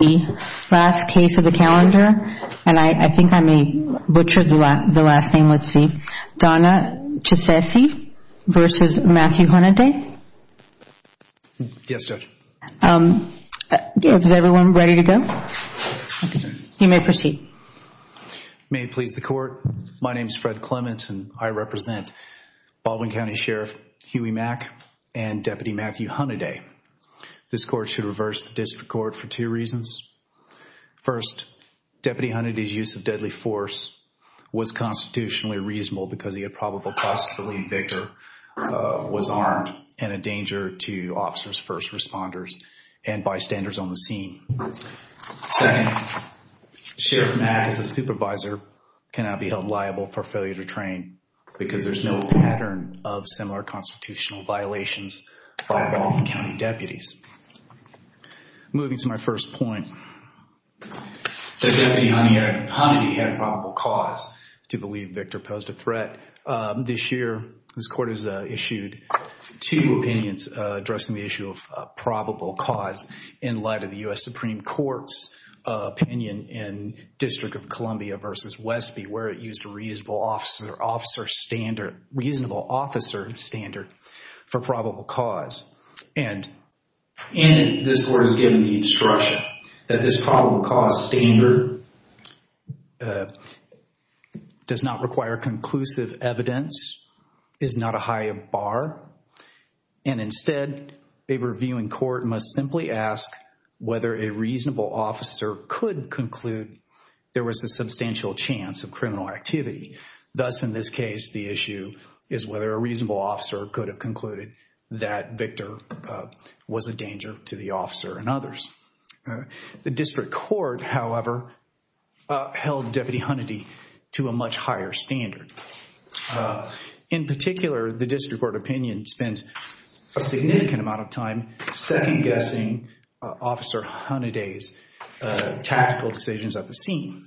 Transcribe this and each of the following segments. May it please the Court, my name is Fred Clements and I represent Baldwin County Sheriff Huey Mack and Deputy Matthew Hunady. This Court should reverse the District Court for two reasons. First, Deputy Hunady's use of deadly force was constitutionally reasonable because he had probable cause to believe Victor was armed and a danger to officers first responders and bystanders on the scene. Second, Sheriff Mack as a supervisor cannot be held liable for failure to train because there's no pattern of similar constitutional violations by Baldwin County deputies. Moving to my first point, Deputy Hunady had probable cause to believe Victor posed a threat. This year, this Court has issued two opinions addressing the issue of probable cause in light of the U.S. Supreme Court's opinion in District of Columbia v. Westby where it used a reasonable officer standard for probable cause. And this Court has given the instruction that this probable cause standard does not require conclusive evidence, is not a high of bar, and instead a reviewing court must simply ask whether a reasonable officer could conclude there was a substantial chance of criminal activity. Thus, in this case, the issue is whether a reasonable officer could have concluded that Victor was a danger to the officer and others. The District Court, however, held Deputy Hunady to a much higher standard. In particular, the District Court opinion spends a significant amount of time second-guessing Officer Hunady's tactical decisions at the scene.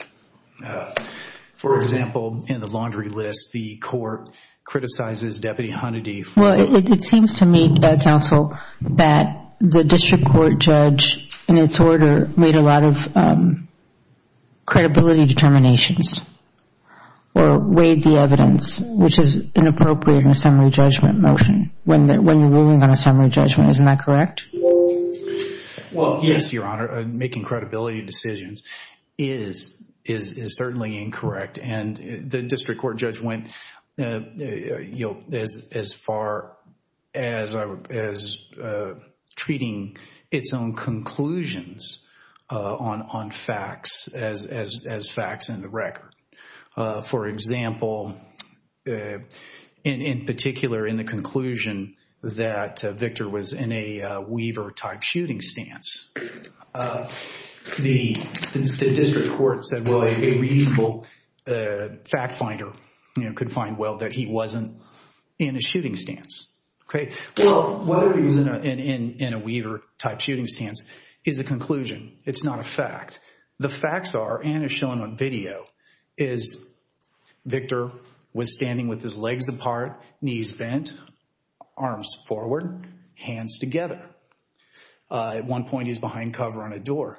For example, in the laundry list, the Court criticizes Deputy Hunady for... Well, it seems to me, Counsel, that the District Court judge in its order made a lot of credibility determinations or weighed the evidence, which is inappropriate in a summary judgment motion when you're ruling on a summary judgment. Isn't that correct? Well, yes, Your Honor. Making credibility decisions is certainly incorrect. And the District Court judge went as far as treating its own conclusions on facts as facts in the record. For example, in particular, in the conclusion that Victor was in a Weaver-type shooting stance, the District Court said, well, a reasonable fact finder could find, well, that he wasn't in a shooting stance. Well, whether he was in a Weaver-type shooting stance is a conclusion. But the facts are, and are shown on video, is Victor was standing with his legs apart, knees bent, arms forward, hands together. At one point, he's behind cover on a door.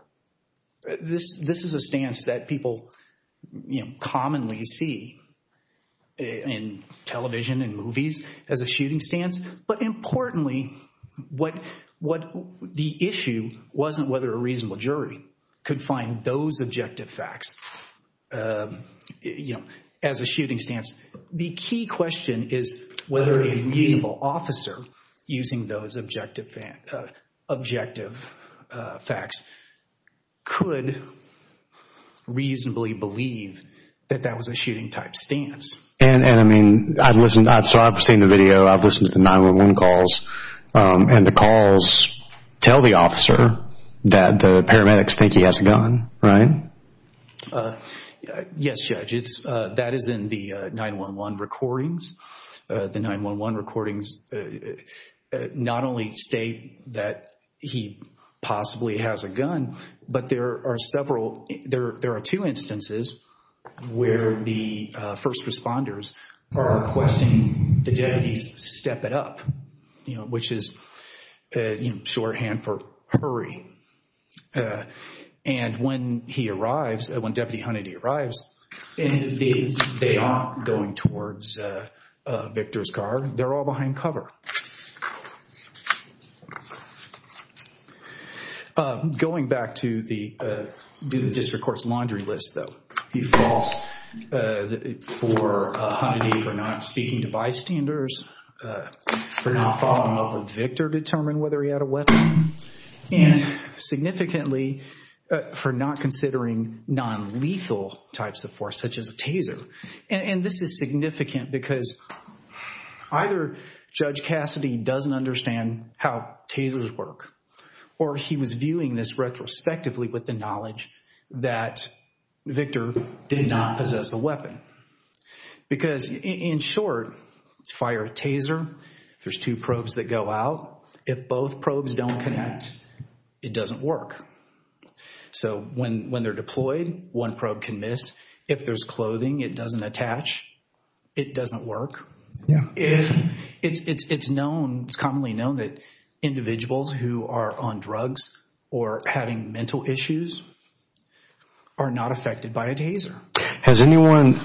This is a stance that people, you know, commonly see in television and movies as a shooting stance. But importantly, what the issue wasn't whether a reasonable jury could find those objective facts, you know, as a shooting stance. The key question is whether a reasonable officer using those objective facts could reasonably believe that that was a shooting-type stance. And, I mean, I've listened, I've seen the video, I've listened to 911 calls, and the calls tell the officer that the paramedics think he has a gun, right? Yes, Judge. That is in the 911 recordings. The 911 recordings not only state that he possibly has a gun, but there are several, there are two instances where the first responders are requesting the deputies step it up, you know, which is, you know, shorthand for hurry. And when he arrives, when Deputy Hunnity arrives, they aren't going towards Victor's car. They're all behind cover. Going back to the district court's laundry list, though. He falls for Hunnity for not speaking to bystanders, for not following up with Victor to determine whether he had a weapon. And significantly for not considering non-lethal types of force, such as a taser. And this is significant because either Judge Cassidy doesn't understand how tasers work, or he was viewing this retrospectively with the knowledge that Victor did not possess a weapon. Because in short, fire a taser, there's two probes that go out. If both probes don't connect, it doesn't work. So when they're deployed, one probe can miss. If there's clothing it doesn't attach, it doesn't work. It's known, it's commonly known that individuals who are on drugs or having mental issues are not affected by a taser. Has anyone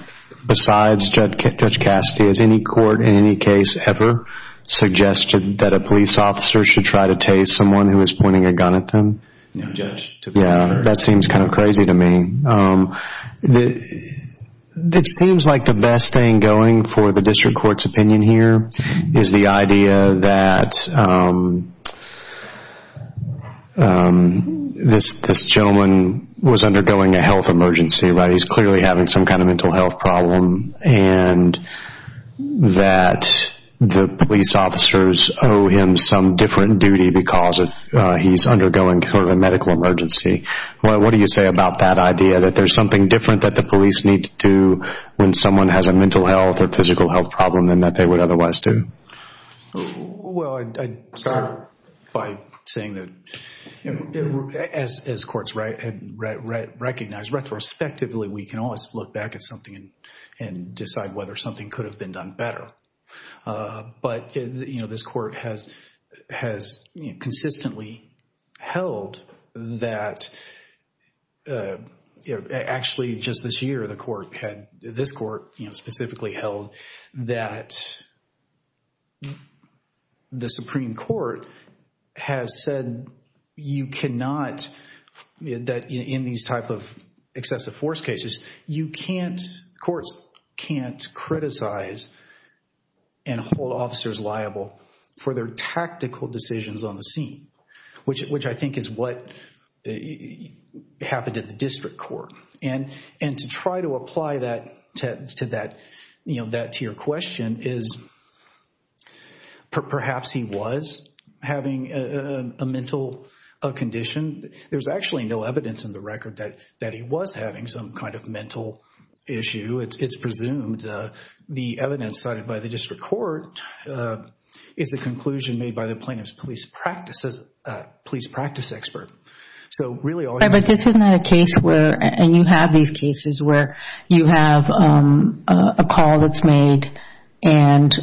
besides Judge Cassidy, has any court in any case ever suggested that a police officer should try to tase someone who is pointing a gun at them? No judge. Yeah, that seems kind of crazy to me. It seems like the best thing going for the district court's opinion here is the idea that this gentleman was undergoing a health emergency. He's clearly having some kind of mental health problem and that the police officers owe him some different duty because he's undergoing sort of a medical emergency. What do you say about that idea that there's something different that the police need to do when someone has a mental health or physical health problem than that they would otherwise do? Well, I'd start by saying that as courts recognize retrospectively we can always look back at something and decide whether something could have been done better. But this court has consistently held that actually just this year this court specifically held that the Supreme Court has said you cannot in these type of excessive force cases, courts can't criticize and hold officers liable for their tactical decisions on the scene, which I think is what happened at the district court. And to try to apply that to your question is perhaps he was having a mental condition. There's actually no evidence in the record that he was having some kind of mental issue. It's presumed the evidence cited by the district court is the conclusion made by the plaintiff's police practice expert. But this is not a case where, and you have these cases where you have a call that's made and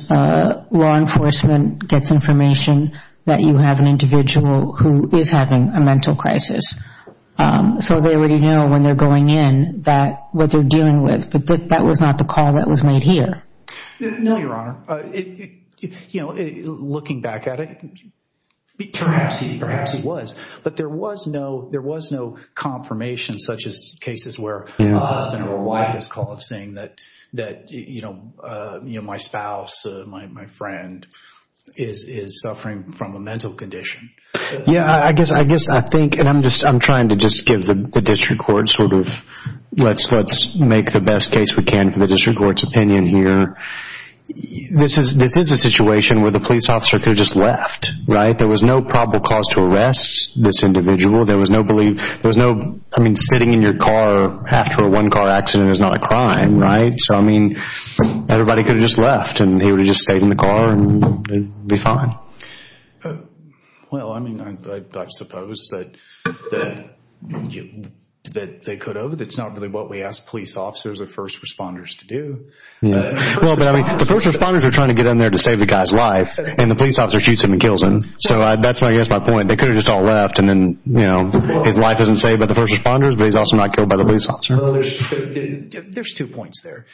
law enforcement gets information that you have an individual who is having a mental crisis. So they already know when they're going in that what they're dealing with, but that was not the call that was made here. No, Your Honor. Looking back at it, perhaps he was. But there was no confirmation such as cases where a husband or a wife is called saying that my spouse, my friend is suffering from a mental condition. Yeah, I guess I think, and I'm trying to just give the district court sort of let's make the best case we can for the district court's opinion here. This is a situation where the police officer could have just left, right? There was no probable cause to arrest this individual. There was no, I mean, sitting in your car after a one-car accident is not a crime, right? So, I mean, everybody could have just left and he would have just stayed in the car and be fine. Well, I mean, I suppose that they could have. It's not really what we ask police officers or first responders to do. Yeah. Well, but I mean, the first responders are trying to get in there to save the guy's life and the police officer shoots him and kills him. So that's my point. They could have just all left and then, you know, his life isn't saved by the first responders, but he's also not killed by the police officer. There's two points there.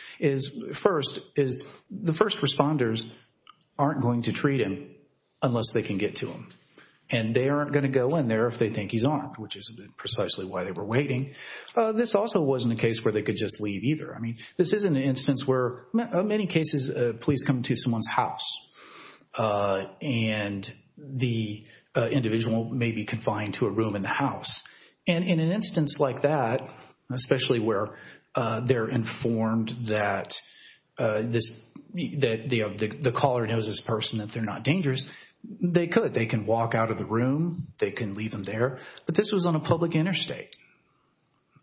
First is the first responders aren't going to treat him unless they can get to him. And they aren't going to go in there if they think he's armed, which is precisely why they were waiting. This also wasn't a case where they could just leave either. I mean, this is an instance where in many cases police come to someone's house and the individual may be confined to a room in the house. And in an instance like that, especially where they're informed that the caller knows this person, that they're not dangerous, they could. They can walk out of the room. They can leave him there. But this was on a public interstate.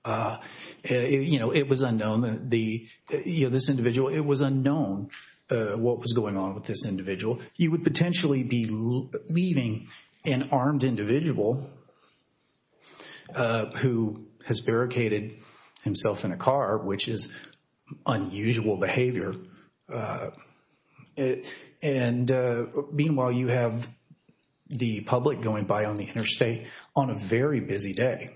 You know, it was unknown. This individual, it was unknown what was going on with this individual. You would potentially be leaving an armed individual who has barricaded himself in a car, which is unusual behavior. And meanwhile, you have the public going by on the interstate on a very busy day,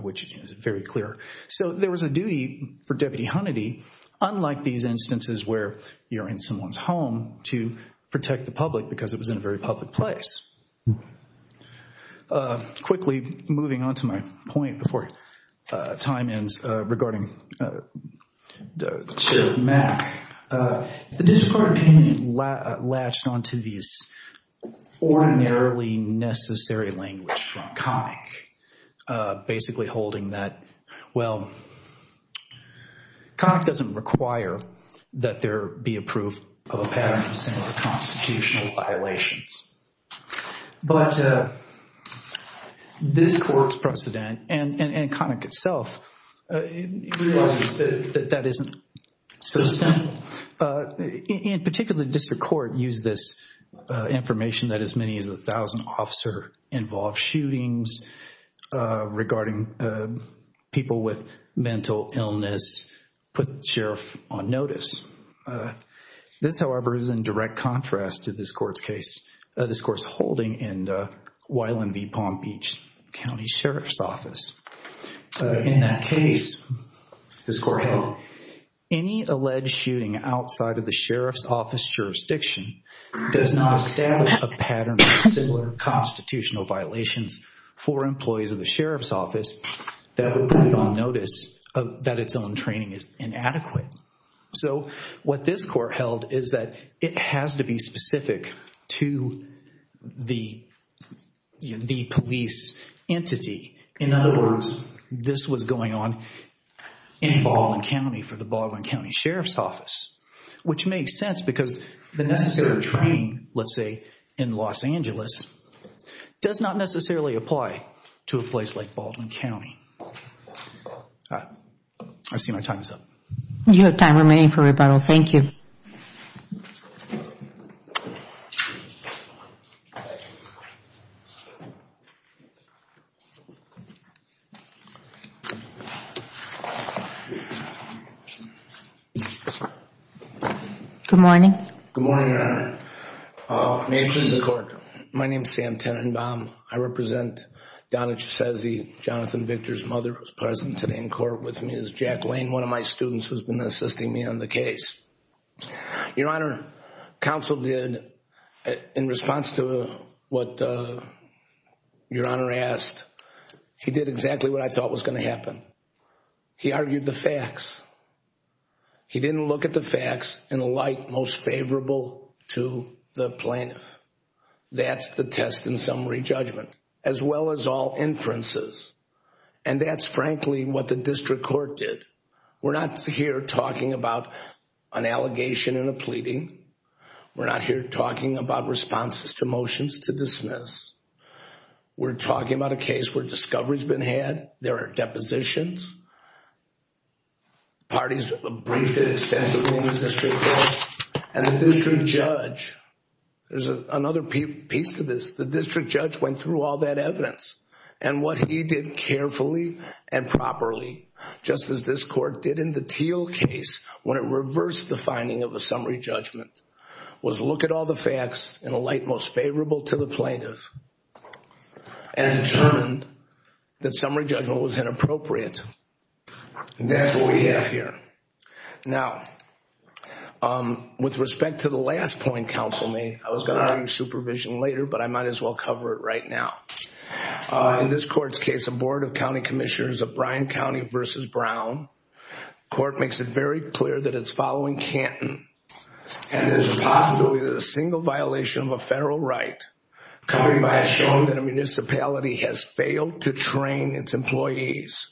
which is very clear. So there was a duty for Deputy Hunnity, unlike these instances where you're in someone's home, to protect the public because it was in a very public place. Quickly, moving on to my point before time ends regarding the issue of MAC. The disreported payment latched onto these ordinarily necessary language from COMIC, basically holding that, well, COMIC doesn't require that there be a proof of a pattern of similar constitutional violations. But this court's precedent and COMIC itself realizes that that isn't so simple. In particular, the district court used this information that as many as 1,000 officers involved shootings regarding people with mental illness put the sheriff on notice. This, however, is in direct contrast to this court's case, this court's holding in Wylan v. Palm Beach County Sheriff's Office. In that case, this court held, any alleged shooting outside of the sheriff's office jurisdiction does not establish a pattern of similar constitutional violations for employees of the sheriff's office that would put it on notice that its own training is inadequate. So, what this court held is that it has to be specific to the police entity. In other words, this was going on in Baldwin County for the Baldwin County Sheriff's Office, which makes sense because the necessary training, let's say in Los Angeles, does not necessarily apply to a place like Baldwin County. I see my time is up. You have time remaining for rebuttal. Thank you. Good morning. Good morning, Your Honor. May it please the court. My name is Sam Tenenbaum. I represent Donna Chisezi, Jonathan Victor's mother, who is present today in court with me is Jack Lane, one of my students who has been assisting me on the case. Your Honor, counsel did, in response to what Your Honor asked, he did exactly what I thought was going to happen. He argued the facts. He didn't look at the facts in a light most favorable to the plaintiff. That's the test and summary judgment, as well as all inferences. And that's frankly what the district court did. We're not here talking about an allegation and a pleading. We're not here talking about responses to motions to dismiss. We're talking about a case where discovery has been had. There are depositions. Parties briefed extensively in the district court. And the district judge, there's another piece to this. The district judge went through all that evidence. And what he did carefully and properly, just as this court did in the Teal case when it reversed the finding of a summary judgment, was look at all the facts in a light most favorable to the plaintiff. And determined that summary judgment was inappropriate. And that's what we have here. Now, with respect to the last point counsel made, I was going to argue supervision later, but I might as well cover it right now. In this court's case, a board of county commissioners of Bryan County v. Brown, the court makes it very clear that it's following Canton. And there's a possibility that a single violation of a federal right coming by a shown that a municipality has failed to train its employees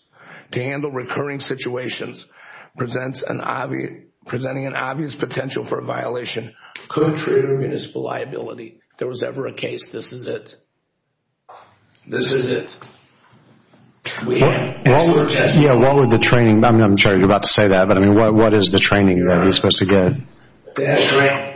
to handle recurring situations, presenting an obvious potential for a violation contrary to municipal liability. If there was ever a case, this is it. This is it. Yeah, what would the training, I'm sure you're about to say that, but what is the training that he's supposed to get?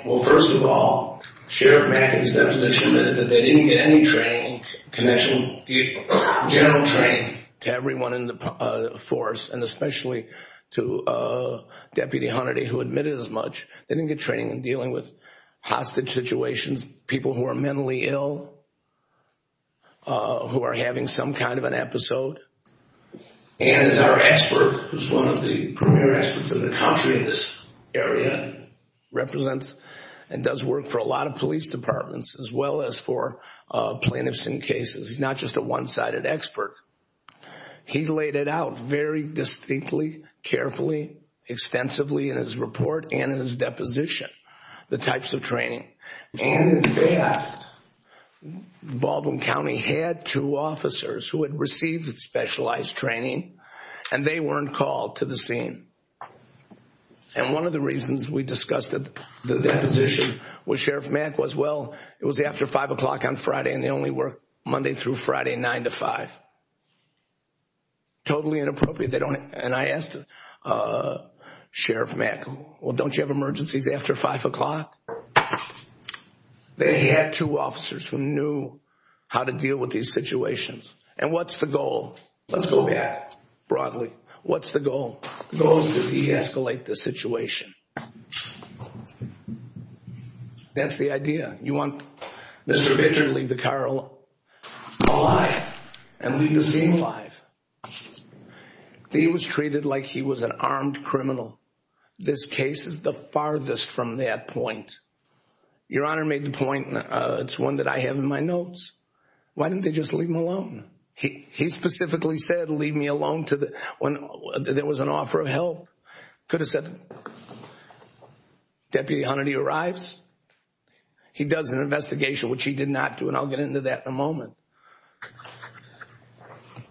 Well, first of all, Sheriff Mackett's deposition that they didn't get any training, the general training to everyone in the force and especially to Deputy Hunterty who admitted as much, they didn't get training in dealing with hostage situations, people who are mentally ill, who are having some kind of an episode. And as our expert, who's one of the premier experts in the country in this area, represents and does work for a lot of police departments as well as for plaintiffs in cases. He's not just a one-sided expert. He laid it out very distinctly, carefully, extensively in his report and in his deposition, the types of training. And in fact, Baldwin County had two officers who had received specialized training, and they weren't called to the scene. And one of the reasons we discussed the deposition with Sheriff Mack was, well, it was after 5 o'clock on Friday and they only worked Monday through Friday 9 to 5. Totally inappropriate. And I asked Sheriff Mack, well, don't you have emergencies after 5 o'clock? They had two officers who knew how to deal with these situations. And what's the goal? Let's go back broadly. What's the goal? The goal is to de-escalate the situation. That's the idea. You want Mr. Victor to leave the car alive and leave the scene alive. He was treated like he was an armed criminal. This case is the farthest from that point. Your Honor made the point, it's one that I have in my notes. Why didn't they just leave him alone? He specifically said, leave me alone, when there was an offer of help. Could have said, Deputy Hunter, he arrives. He does an investigation, which he did not do, and I'll get into that in a moment.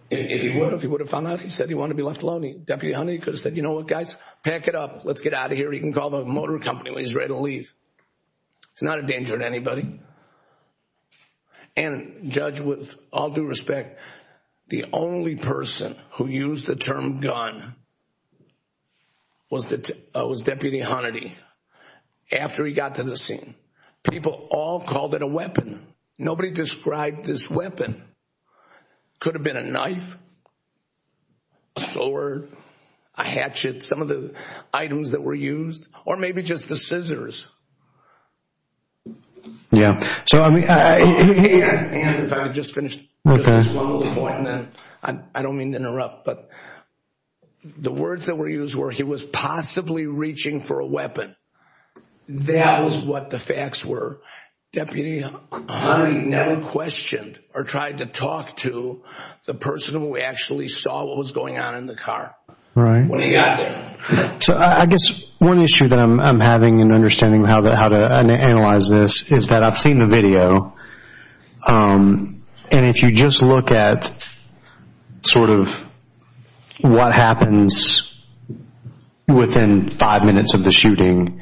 If he would have, if he would have found out, he said he wanted to be left alone. Deputy Hunter, he could have said, you know what, guys, pack it up. Let's get out of here. He can call the motor company when he's ready to leave. It's not a danger to anybody. And Judge, with all due respect, the only person who used the term gun was Deputy Hunnity. After he got to the scene, people all called it a weapon. Nobody described this weapon. Could have been a knife, a sword, a hatchet, some of the items that were used, or maybe just the scissors. Yeah. So, I mean, if I could just finish this one little point, and then I don't mean to interrupt, but the words that were used were he was possibly reaching for a weapon. That was what the facts were. Deputy Hunnity never questioned or tried to talk to the person who actually saw what was going on in the car. Right. When he got there. So, I guess one issue that I'm having in understanding how to analyze this is that I've seen the video, and if you just look at sort of what happens within five minutes of the shooting,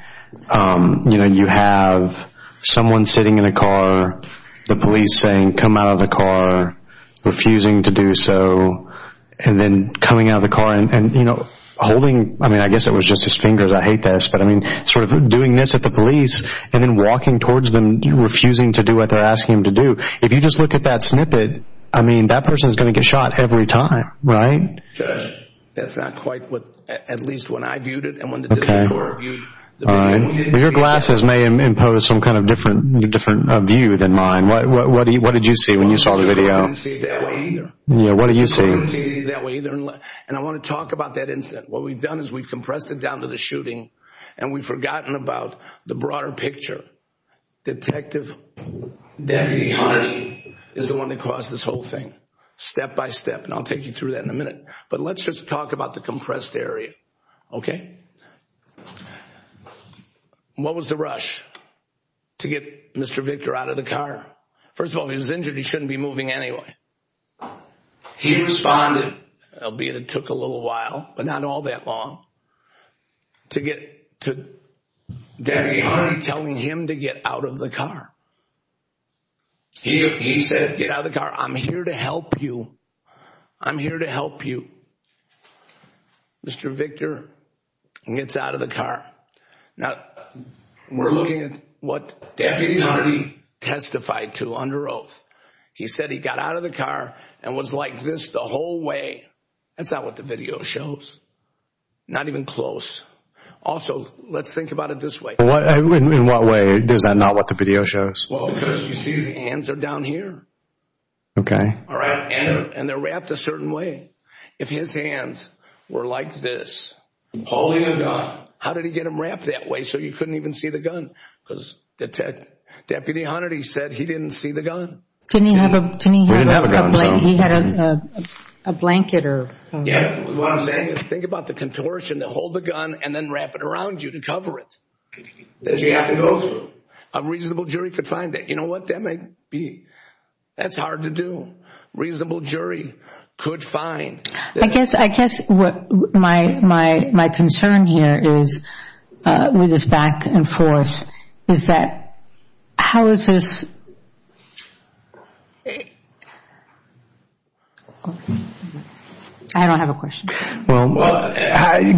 you know, you have someone sitting in a car, the police saying, come out of the car, refusing to do so, and then coming out of the car and, you know, holding, I mean, I guess it was just his fingers, I hate this, but, I mean, sort of doing this at the police, and then walking towards them, refusing to do what they're asking him to do. If you just look at that snippet, I mean, that person is going to get shot every time, right? That's not quite what, at least when I viewed it and when the District Court reviewed the video, we didn't see it. Your glasses may impose some kind of different view than mine. What did you see when you saw the video? I didn't see it that way either. Yeah, what did you see? I didn't see it that way either, and I want to talk about that incident. What we've done is we've compressed it down to the shooting, and we've forgotten about the broader picture. Detective Deputy Hardy is the one that caused this whole thing, step by step, and I'll take you through that in a minute, but let's just talk about the compressed area, okay? What was the rush to get Mr. Victor out of the car? First of all, he was injured. He shouldn't be moving anyway. He responded. It took a little while, but not all that long, to get to Deputy Hardy telling him to get out of the car. He said, get out of the car. I'm here to help you. I'm here to help you. Mr. Victor gets out of the car. Now, we're looking at what Deputy Hardy testified to under oath. He said he got out of the car and was like this the whole way. That's not what the video shows. Not even close. Also, let's think about it this way. In what way is that not what the video shows? Well, because you see his hands are down here. Okay. All right, and they're wrapped a certain way. If his hands were like this, holding a gun, how did he get them wrapped that way so you couldn't even see the gun? Because Deputy Hardy said he didn't see the gun. Didn't he have a blanket? Think about the contortion to hold the gun and then wrap it around you to cover it. Did you have to go through? A reasonable jury could find that. You know what? That might be. That's hard to do. A reasonable jury could find. I guess what my concern here is with this back and forth is that how is this? I don't have a question. Well,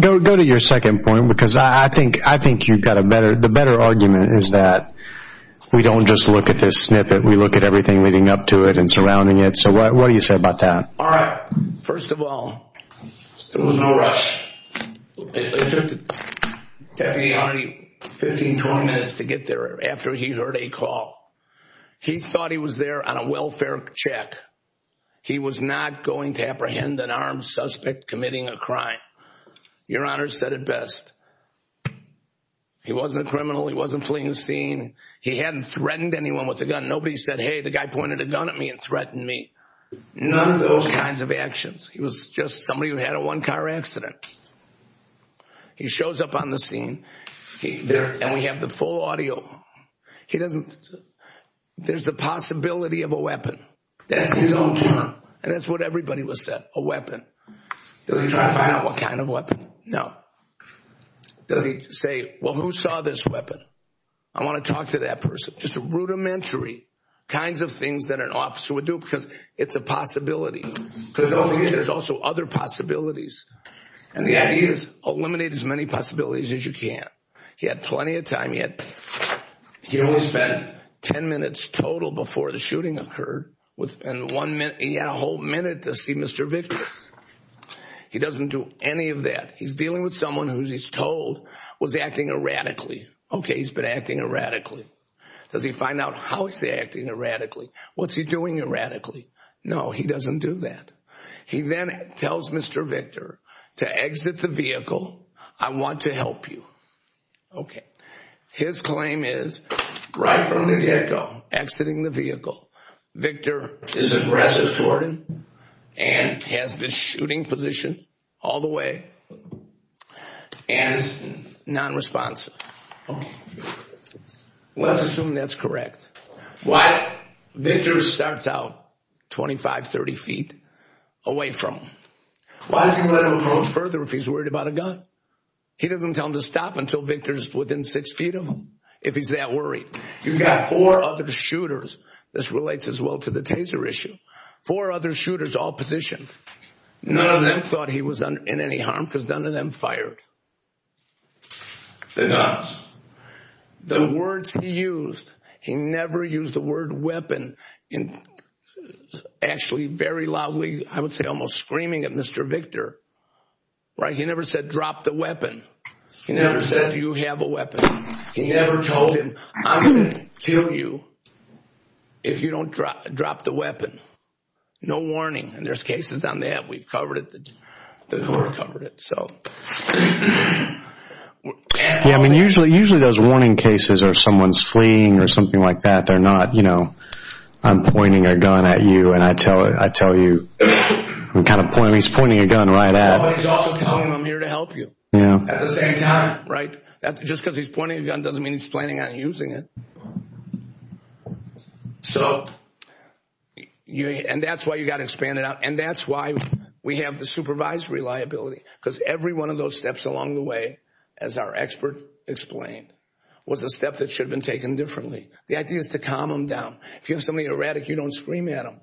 go to your second point because I think you've got a better argument is that we don't just look at this snippet. We look at everything leading up to it and surrounding it. So what do you say about that? All right. First of all, there was no rush. Deputy Hardy, 15, 20 minutes to get there after he heard a call. He thought he was there on a welfare check. He was not going to apprehend an armed suspect committing a crime. Your Honor said it best. He wasn't a criminal. He wasn't fleeing the scene. He hadn't threatened anyone with a gun. Nobody said, hey, the guy pointed a gun at me and threatened me. None of those kinds of actions. He was just somebody who had a one-car accident. He shows up on the scene, and we have the full audio. He doesn't. There's the possibility of a weapon. That's his own term. And that's what everybody would say, a weapon. Does he try to find out what kind of weapon? No. Does he say, well, who saw this weapon? I want to talk to that person. Just rudimentary kinds of things that an officer would do because it's a possibility. There's also other possibilities. And the idea is eliminate as many possibilities as you can. He had plenty of time. He only spent 10 minutes total before the shooting occurred. And he had a whole minute to see Mr. Victor. He doesn't do any of that. He's dealing with someone who he's told was acting erratically. Okay, he's been acting erratically. Does he find out how he's acting erratically? What's he doing erratically? No, he doesn't do that. He then tells Mr. Victor to exit the vehicle. I want to help you. Okay. His claim is, right from the get-go, exiting the vehicle. Victor is aggressive toward him and has this shooting position all the way and is nonresponsive. Okay. Let's assume that's correct. Why? Victor starts out 25, 30 feet away from him. Why does he let him go further if he's worried about a gun? He doesn't tell him to stop until Victor's within 6 feet of him, if he's that worried. You've got four other shooters. This relates as well to the Taser issue. Four other shooters, all positioned. None of them thought he was in any harm because none of them fired. The guns. The words he used, he never used the word weapon. Actually, very loudly, I would say almost screaming at Mr. Victor. Right? He never said, drop the weapon. He never said, you have a weapon. He never told him, I'm going to kill you if you don't drop the weapon. No warning. And there's cases on that. We've covered it. The court covered it. Yeah, I mean, usually those warning cases are someone's fleeing or something like that. They're not, you know, I'm pointing a gun at you and I tell you. He's pointing a gun right at him. But he's also telling him, I'm here to help you. At the same time. Right? Just because he's pointing a gun doesn't mean he's planning on using it. And that's why you've got to expand it out. And that's why we have the supervisory liability. Because every one of those steps along the way, as our expert explained, was a step that should have been taken differently. The idea is to calm them down. If you have somebody erratic, you don't scream at them.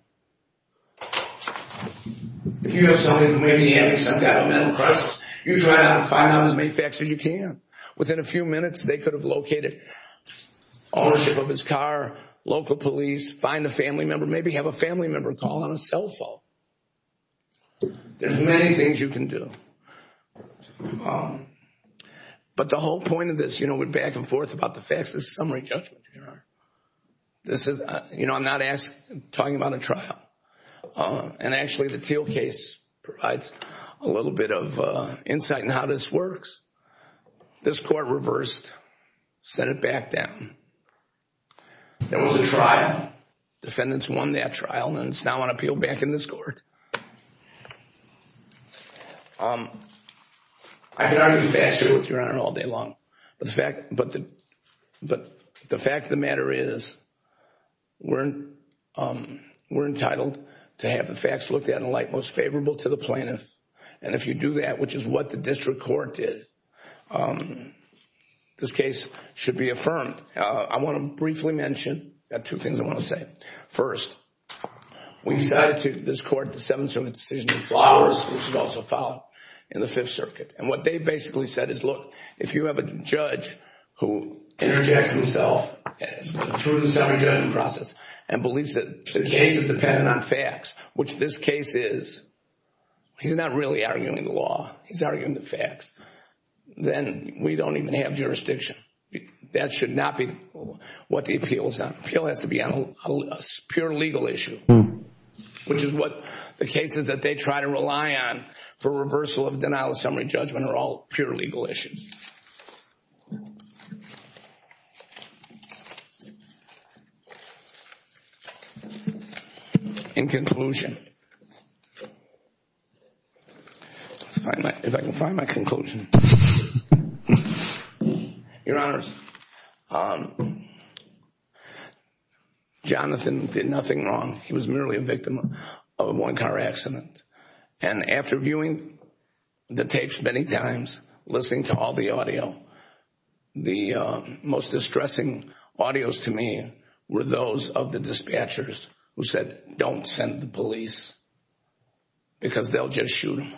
If you have somebody who may be having some kind of mental crisis, you try to find out as many facts as you can. Within a few minutes, they could have located ownership of his car, local police, find a family member, maybe have a family member call on a cell phone. There's many things you can do. But the whole point of this, you know, we're back and forth about the facts. This is summary judgment. You know, I'm not talking about a trial. And actually, the Teal case provides a little bit of insight in how this works. This court reversed, set it back down. There was a trial. Defendants won that trial. And it's now on appeal back in this court. I could argue faster with your Honor all day long. But the fact of the matter is we're entitled to have the facts looked at in a light most favorable to the plaintiff. And if you do that, which is what the district court did, this case should be affirmed. I want to briefly mention two things I want to say. First, we decided to, this court, the 7th Circuit decision of Flowers, which was also filed in the Fifth Circuit. And what they basically said is, look, if you have a judge who interjects himself through the summary judgment process and believes that the case is dependent on facts, which this case is, he's not really arguing the law. He's arguing the facts. Then we don't even have jurisdiction. That should not be what the appeal is on. The appeal has to be on a pure legal issue, which is what the cases that they try to rely on for reversal of denial of judgment are all pure legal issues. In conclusion, if I can find my conclusion. Your Honors, Jonathan did nothing wrong. He was merely a victim of a one-car accident. And after viewing the tapes many times, listening to all the audio, the most distressing audios to me were those of the dispatchers who said, don't send the police because they'll just shoot him.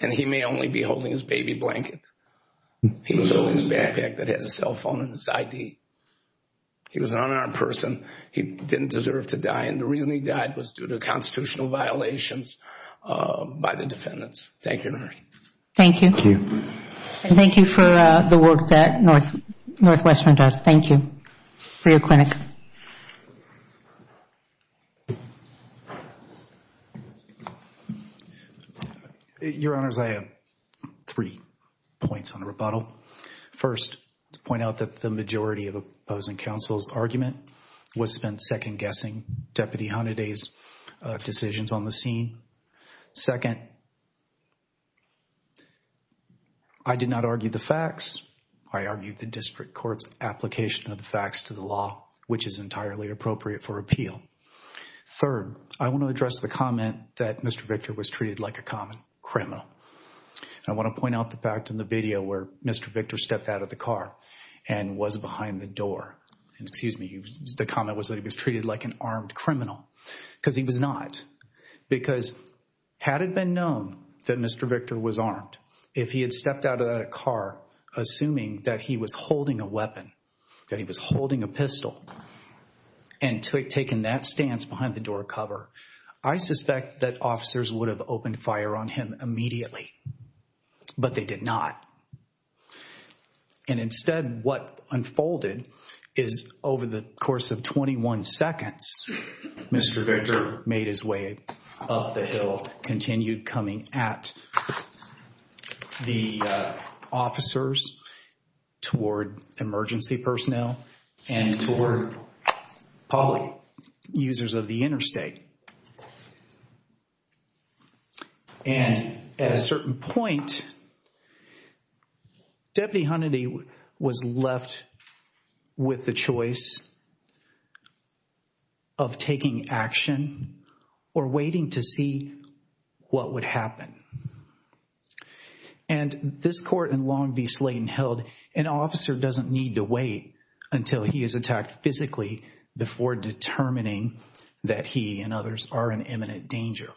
And he may only be holding his baby blanket. He was holding his backpack that had his cell phone and his ID. He was an unarmed person. He didn't deserve to die. And the reason he died was due to constitutional violations by the defendants. Thank you, Your Honor. Thank you. Thank you. And thank you for the work that Northwestern does. Thank you for your clinic. Your Honors, I have three points on the rebuttal. First, to point out that the majority of opposing counsel's argument was spent second-guessing Deputy Hunteday's decisions on the scene. Second, I did not argue the facts. I argued the district court's application of the facts to the law, which is entirely appropriate for appeal. Third, I want to address the comment that Mr. Victor was treated like a common criminal. I want to point out the fact in the video where Mr. Victor stepped out of the car and was behind the door. Excuse me. The comment was that he was treated like an armed criminal because he was not. Because had it been known that Mr. Victor was armed, if he had stepped out of that car assuming that he was holding a weapon, that he was holding a pistol, and taken that stance behind the door cover, I suspect that officers would have opened fire on him immediately. But they did not. And instead, what unfolded is over the course of 21 seconds, Mr. Victor made his way up the hill, continued coming at the officers toward emergency personnel and toward public users of the interstate. And at a certain point, Deputy Hunnity was left with the choice of taking action or waiting to see what would happen. And this court in Long Beach Lane held, an officer doesn't need to wait until he is attacked physically before determining that he and others are in imminent danger,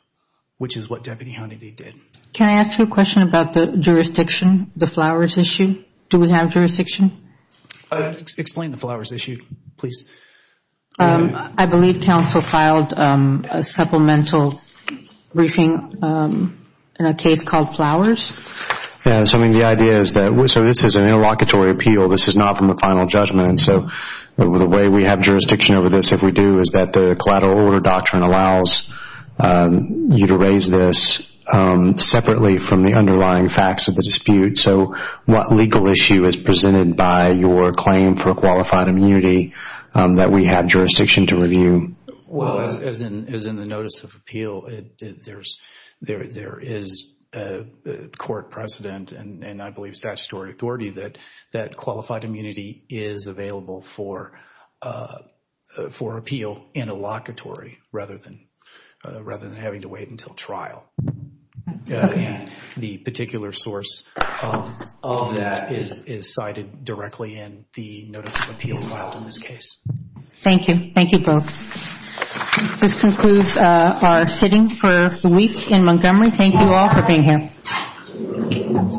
which is what Deputy Hunnity did. Can I ask you a question about the jurisdiction, the Flowers issue? Do we have jurisdiction? Explain the Flowers issue, please. I believe counsel filed a supplemental briefing in a case called Flowers. Yes, I mean the idea is that, so this is an interlocutory appeal. This is not from a final judgment. So the way we have jurisdiction over this, if we do, is that the collateral order doctrine allows you to raise this separately from the underlying facts of the dispute. So what legal issue is presented by your claim for qualified immunity that we have jurisdiction to review? Well, as in the notice of appeal, there is a court precedent and I believe statutory authority that qualified immunity is available for appeal interlocutory rather than having to wait until trial. And the particular source of that is cited directly in the notice of appeal filed in this case. Thank you. Thank you both. This concludes our sitting for the week in Montgomery. Thank you all for being here.